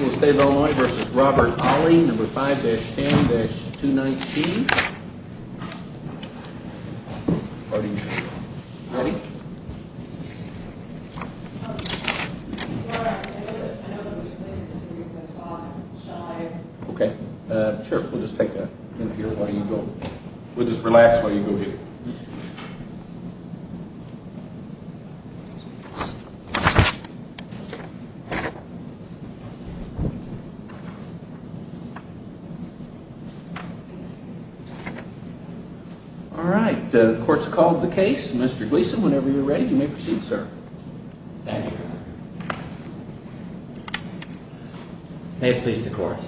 State of Illinois v. Robert Ollie, number 5-10-219. Ready? I know that this is a place for you to stop. Shall I? Okay. Sheriff, we'll just take a... We'll just relax while you go ahead. Alright, the court's called the case. Mr. Gleason, whenever you're ready, you may proceed, sir. Thank you. May it please the court.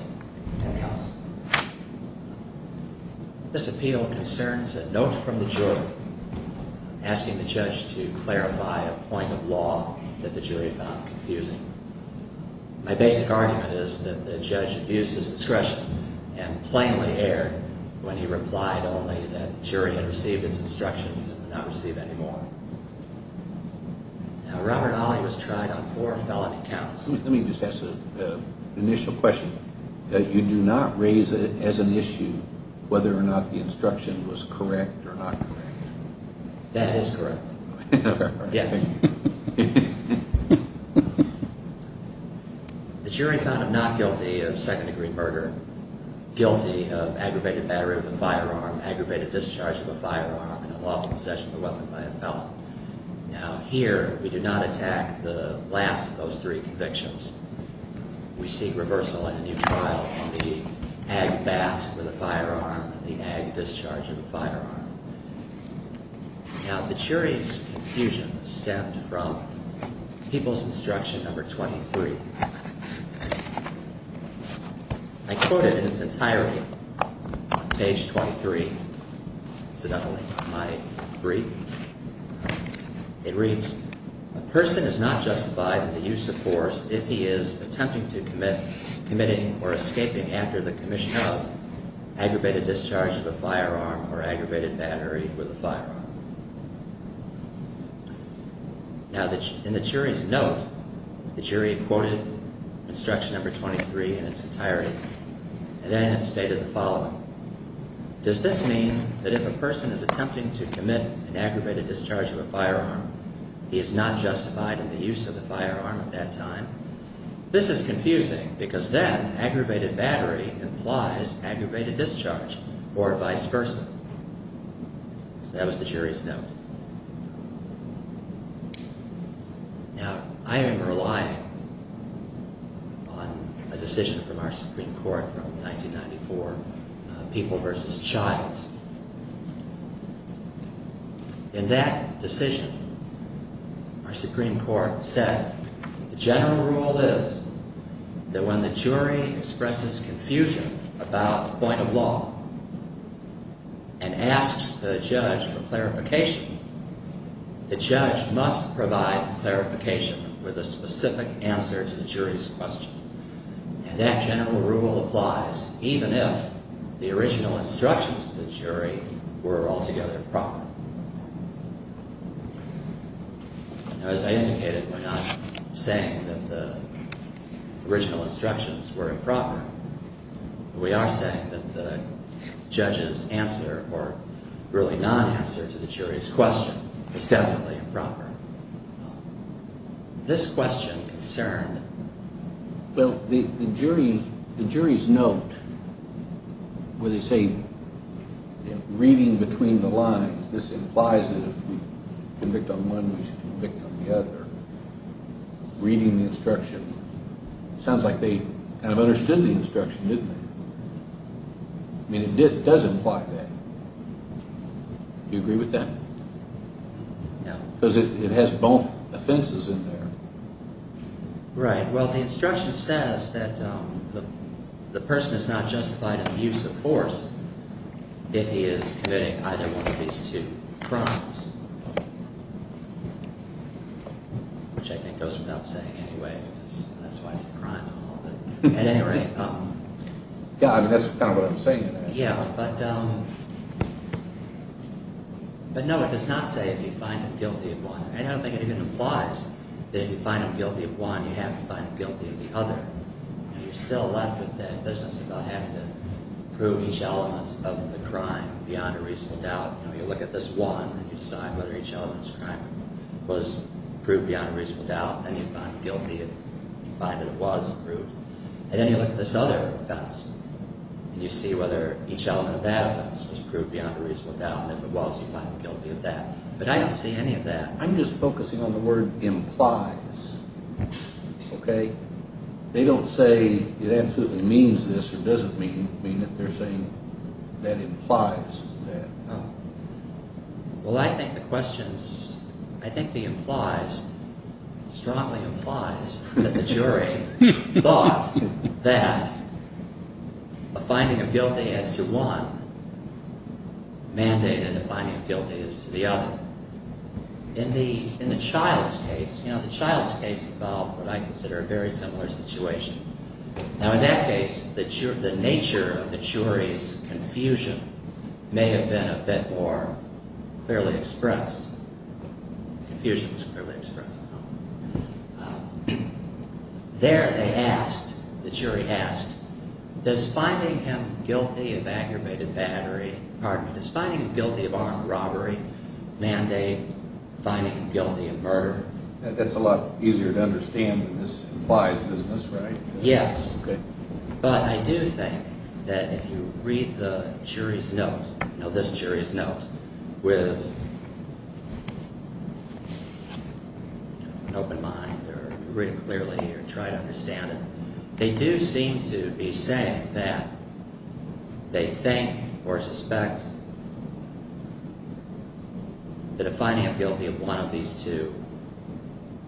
This appeal concerns a note from the jury asking the judge to clarify a point of law that the jury found confusing. My basic argument is that the judge abused his discretion and plainly erred when he replied only that the jury had received its instructions and would not receive any more. Now, Robert Ollie was tried on four felony counts. Let me just ask an initial question. You do not raise as an issue whether or not the instruction was correct or not correct? That is correct. Yes. The jury found him not guilty of second-degree murder, guilty of aggravated battery with a firearm, aggravated discharge of a firearm, and unlawful possession of a weapon by a felon. Now, here, we do not attack the last of those three convictions. We seek reversal in a new trial on the ag bat with a firearm and the ag discharge of a firearm. Now, the jury's confusion stemmed from People's Instruction Number 23. I quote it in its entirety on page 23, incidentally, of my brief. It reads, a person is not justified in the use of force if he is attempting to commit, committing, or escaping after the commission of aggravated discharge of a firearm or aggravated battery with a firearm. Now, in the jury's note, the jury quoted Instruction Number 23 in its entirety, and then it stated the following. Does this mean that if a person is attempting to commit an aggravated discharge of a firearm, he is not justified in the use of the firearm at that time? This is confusing because then aggravated battery implies aggravated discharge or vice versa. So that was the jury's note. Now, I am relying on a decision from our Supreme Court from 1994, People v. Childs. In that decision, our Supreme Court said the general rule is that when the jury expresses confusion about the point of law and asks the judge for clarification, the judge must provide clarification with a specific answer to the jury's question. And that general rule applies even if the original instructions to the jury were altogether improper. Now, as I indicated, we're not saying that the original instructions were improper. We are saying that the judge's answer, or really non-answer to the jury's question, was definitely improper. This question concerned... Well, the jury's note where they say reading between the lines, this implies that if we convict on one, we should convict on the other, reading the instruction, sounds like they kind of understood the instruction, didn't they? I mean, it does imply that. Do you agree with that? No. Because it has both offenses in there. Right. Well, the instruction says that the person is not justified in the use of force if he is committing either one of these two crimes, which I think goes without saying anyway, because that's why it's a crime law. At any rate... Yeah, I mean, that's kind of what I'm saying in that. Yeah, but no, it does not say if you find him guilty of one. And I don't think it even implies that if you find him guilty of one, you have to find him guilty of the other. You're still left with that business about having to prove each element of the crime beyond a reasonable doubt. You look at this one, and you decide whether each element's crime was proved beyond a reasonable doubt, and you find him guilty if you find that it was proved. And then you look at this other offense, and you see whether each element of that offense was proved beyond a reasonable doubt, and if it was, you find him guilty of that. But I don't see any of that. I'm just focusing on the word implies, okay? They don't say it absolutely means this or doesn't mean it. They're saying that implies that. Well, I think the questions, I think the implies, strongly implies that the jury thought that a finding of guilty as to one mandated a finding of guilty as to the other. In the child's case, you know, the child's case involved what I consider a very similar situation. Now, in that case, the nature of the jury's confusion may have been a bit more clearly expressed. Confusion was clearly expressed. There they asked, the jury asked, does finding him guilty of aggravated battery, pardon me, does finding him guilty of armed robbery mandate finding him guilty of murder? That's a lot easier to understand than this implies business, right? Yes. Okay. But I do think that if you read the jury's note, you know, this jury's note, with an open mind or read it clearly or try to understand it, they do seem to be saying that they think or suspect that a finding of guilty of one of these two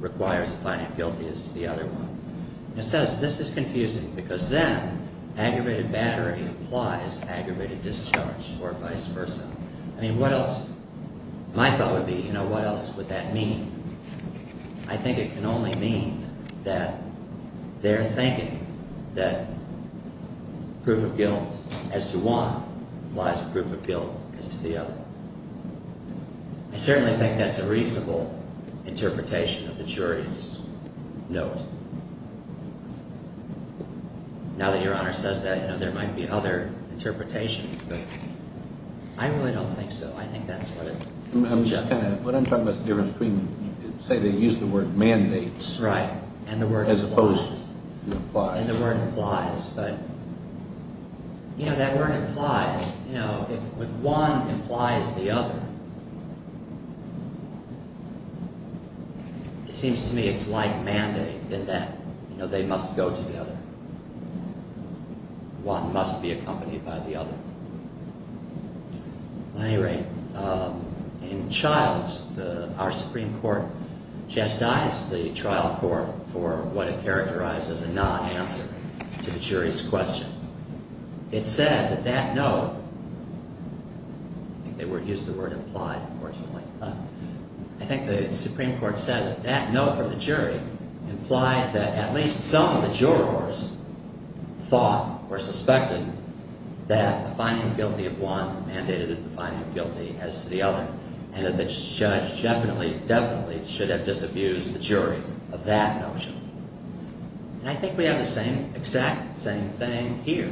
requires a finding of guilty as to the other one. It says this is confusing because then aggravated battery implies aggravated discharge or vice versa. I mean, what else? My thought would be, you know, what else would that mean? I think it can only mean that they're thinking that proof of guilt as to one lies with proof of guilt as to the other. I certainly think that's a reasonable interpretation of the jury's note. Now that Your Honor says that, you know, there might be other interpretations. I really don't think so. I think that's what it suggests. What I'm talking about is a different treatment. You say they use the word mandate. Right, and the word implies. As opposed to implies. And the word implies. But, you know, that word implies. You know, if one implies the other, it seems to me it's like mandate in that, you know, they must go to the other. One must be accompanied by the other. At any rate, in Childs, our Supreme Court chastised the trial court for what it characterized as a non-answer to the jury's question. It said that that note, I think they used the word implied, unfortunately. I think the Supreme Court said that that note from the jury implied that at least some of the jurors thought or suspected that the finding of guilty of one mandated the finding of guilty as to the other. And that the judge definitely, definitely should have disabused the jury of that notion. And I think we have the same, exact same thing here.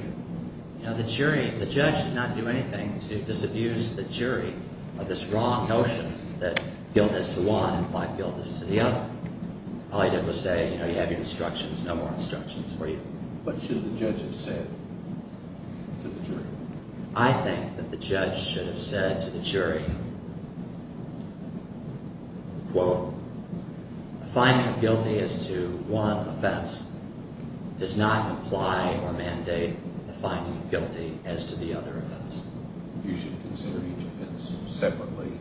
You know, the jury, the judge should not do anything to disabuse the jury of this wrong notion that guilt is to one implied guilt is to the other. All you did was say, you know, you have your instructions, no more instructions for you. But should the judge have said to the jury? I think that the judge should have said to the jury, quote, The finding of guilty as to one offense does not imply or mandate the finding of guilty as to the other offense. You should consider each offense separately,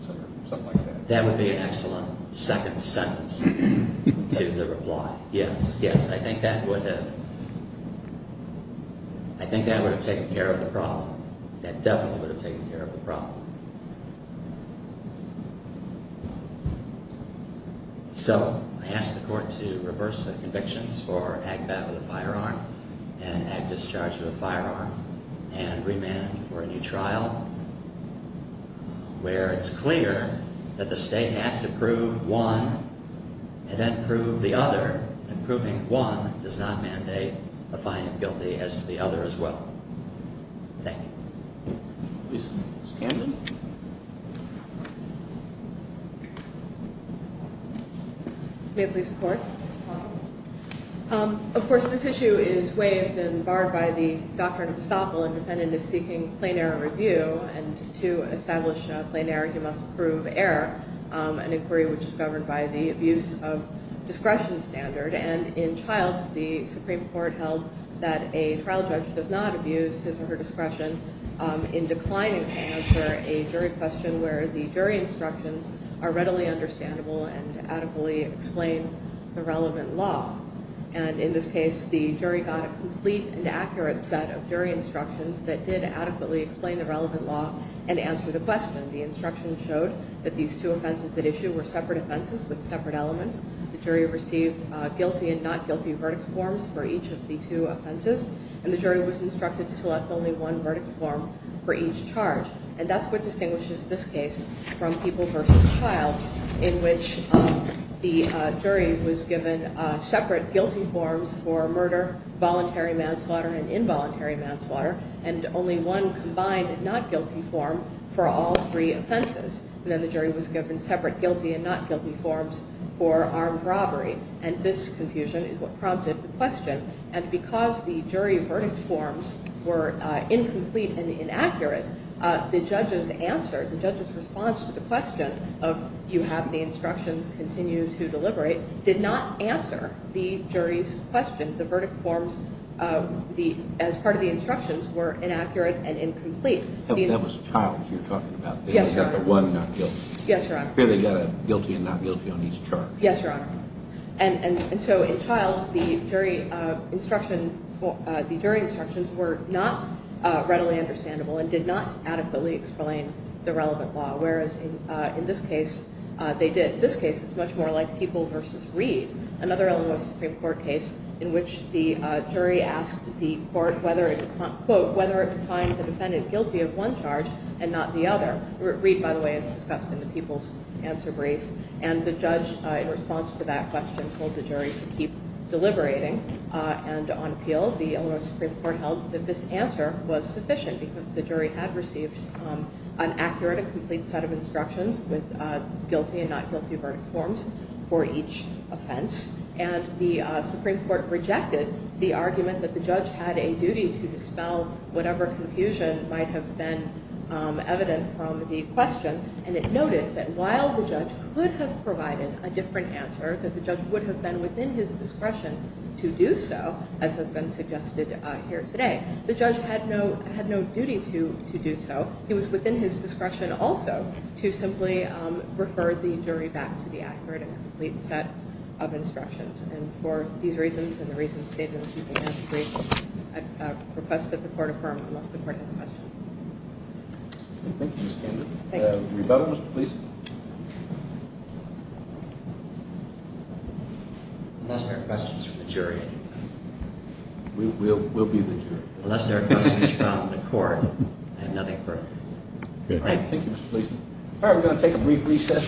something like that. That would be an excellent second sentence to the reply. Yes, yes, I think that would have, I think that would have taken care of the problem. So I ask the court to reverse the convictions for agbat with a firearm and agdischarge with a firearm and remand for a new trial. Where it's clear that the state has to prove one and then prove the other. And proving one does not mandate a finding of guilty as to the other as well. Thank you. Ms. Camden. May it please the court. Of course, this issue is waived and barred by the doctrine of estoppel. A defendant is seeking plain error review and to establish plain error, he must prove error. An inquiry which is governed by the abuse of discretion standard. And in Childs, the Supreme Court held that a trial judge does not abuse his or her discretion in declining to answer a jury question. Where the jury instructions are readily understandable and adequately explain the relevant law. And in this case, the jury got a complete and accurate set of jury instructions that did adequately explain the relevant law and answer the question. The instruction showed that these two offenses at issue were separate offenses with separate elements. The jury received guilty and not guilty verdict forms for each of the two offenses. And the jury was instructed to select only one verdict form for each charge. And that's what distinguishes this case from People v. Childs. In which the jury was given separate guilty forms for murder, voluntary manslaughter, and involuntary manslaughter. And only one combined not guilty form for all three offenses. And then the jury was given separate guilty and not guilty forms for armed robbery. And this confusion is what prompted the question. And because the jury verdict forms were incomplete and inaccurate, the judge's answer, the judge's response to the question of, you have the instructions, continue to deliberate, did not answer the jury's question. The verdict forms, as part of the instructions, were inaccurate and incomplete. That was Childs you're talking about. Yes, Your Honor. The one not guilty. Yes, Your Honor. Here they've got a guilty and not guilty on each charge. Yes, Your Honor. And so in Childs, the jury instructions were not readily understandable and did not adequately explain the relevant law. Whereas in this case, they did. This case is much more like People v. Reed. Another Illinois Supreme Court case in which the jury asked the court, quote, whether it would find the defendant guilty of one charge and not the other. Reed, by the way, is discussed in the People's Answer Brief. And the judge, in response to that question, told the jury to keep deliberating and on appeal. The Illinois Supreme Court held that this answer was sufficient because the jury had received an accurate and complete set of instructions with guilty and not guilty verdict forms for each offense. And the Supreme Court rejected the argument that the judge had a duty to dispel whatever confusion might have been evident from the question. And it noted that while the judge could have provided a different answer, that the judge would have been within his discretion to do so, as has been suggested here today. The judge had no duty to do so. He was within his discretion also to simply refer the jury back to the accurate and complete set of instructions. And for these reasons and the reasons stated in the People's Answer Brief, I request that the court affirm unless the court has a question. Thank you, Ms. Candon. Thank you. Rebuttal, Mr. Gleeson. Unless there are questions from the jury. We'll be the jury. Unless there are questions from the court, I have nothing further. Thank you, Mr. Gleeson. All right, we're going to take a brief recess.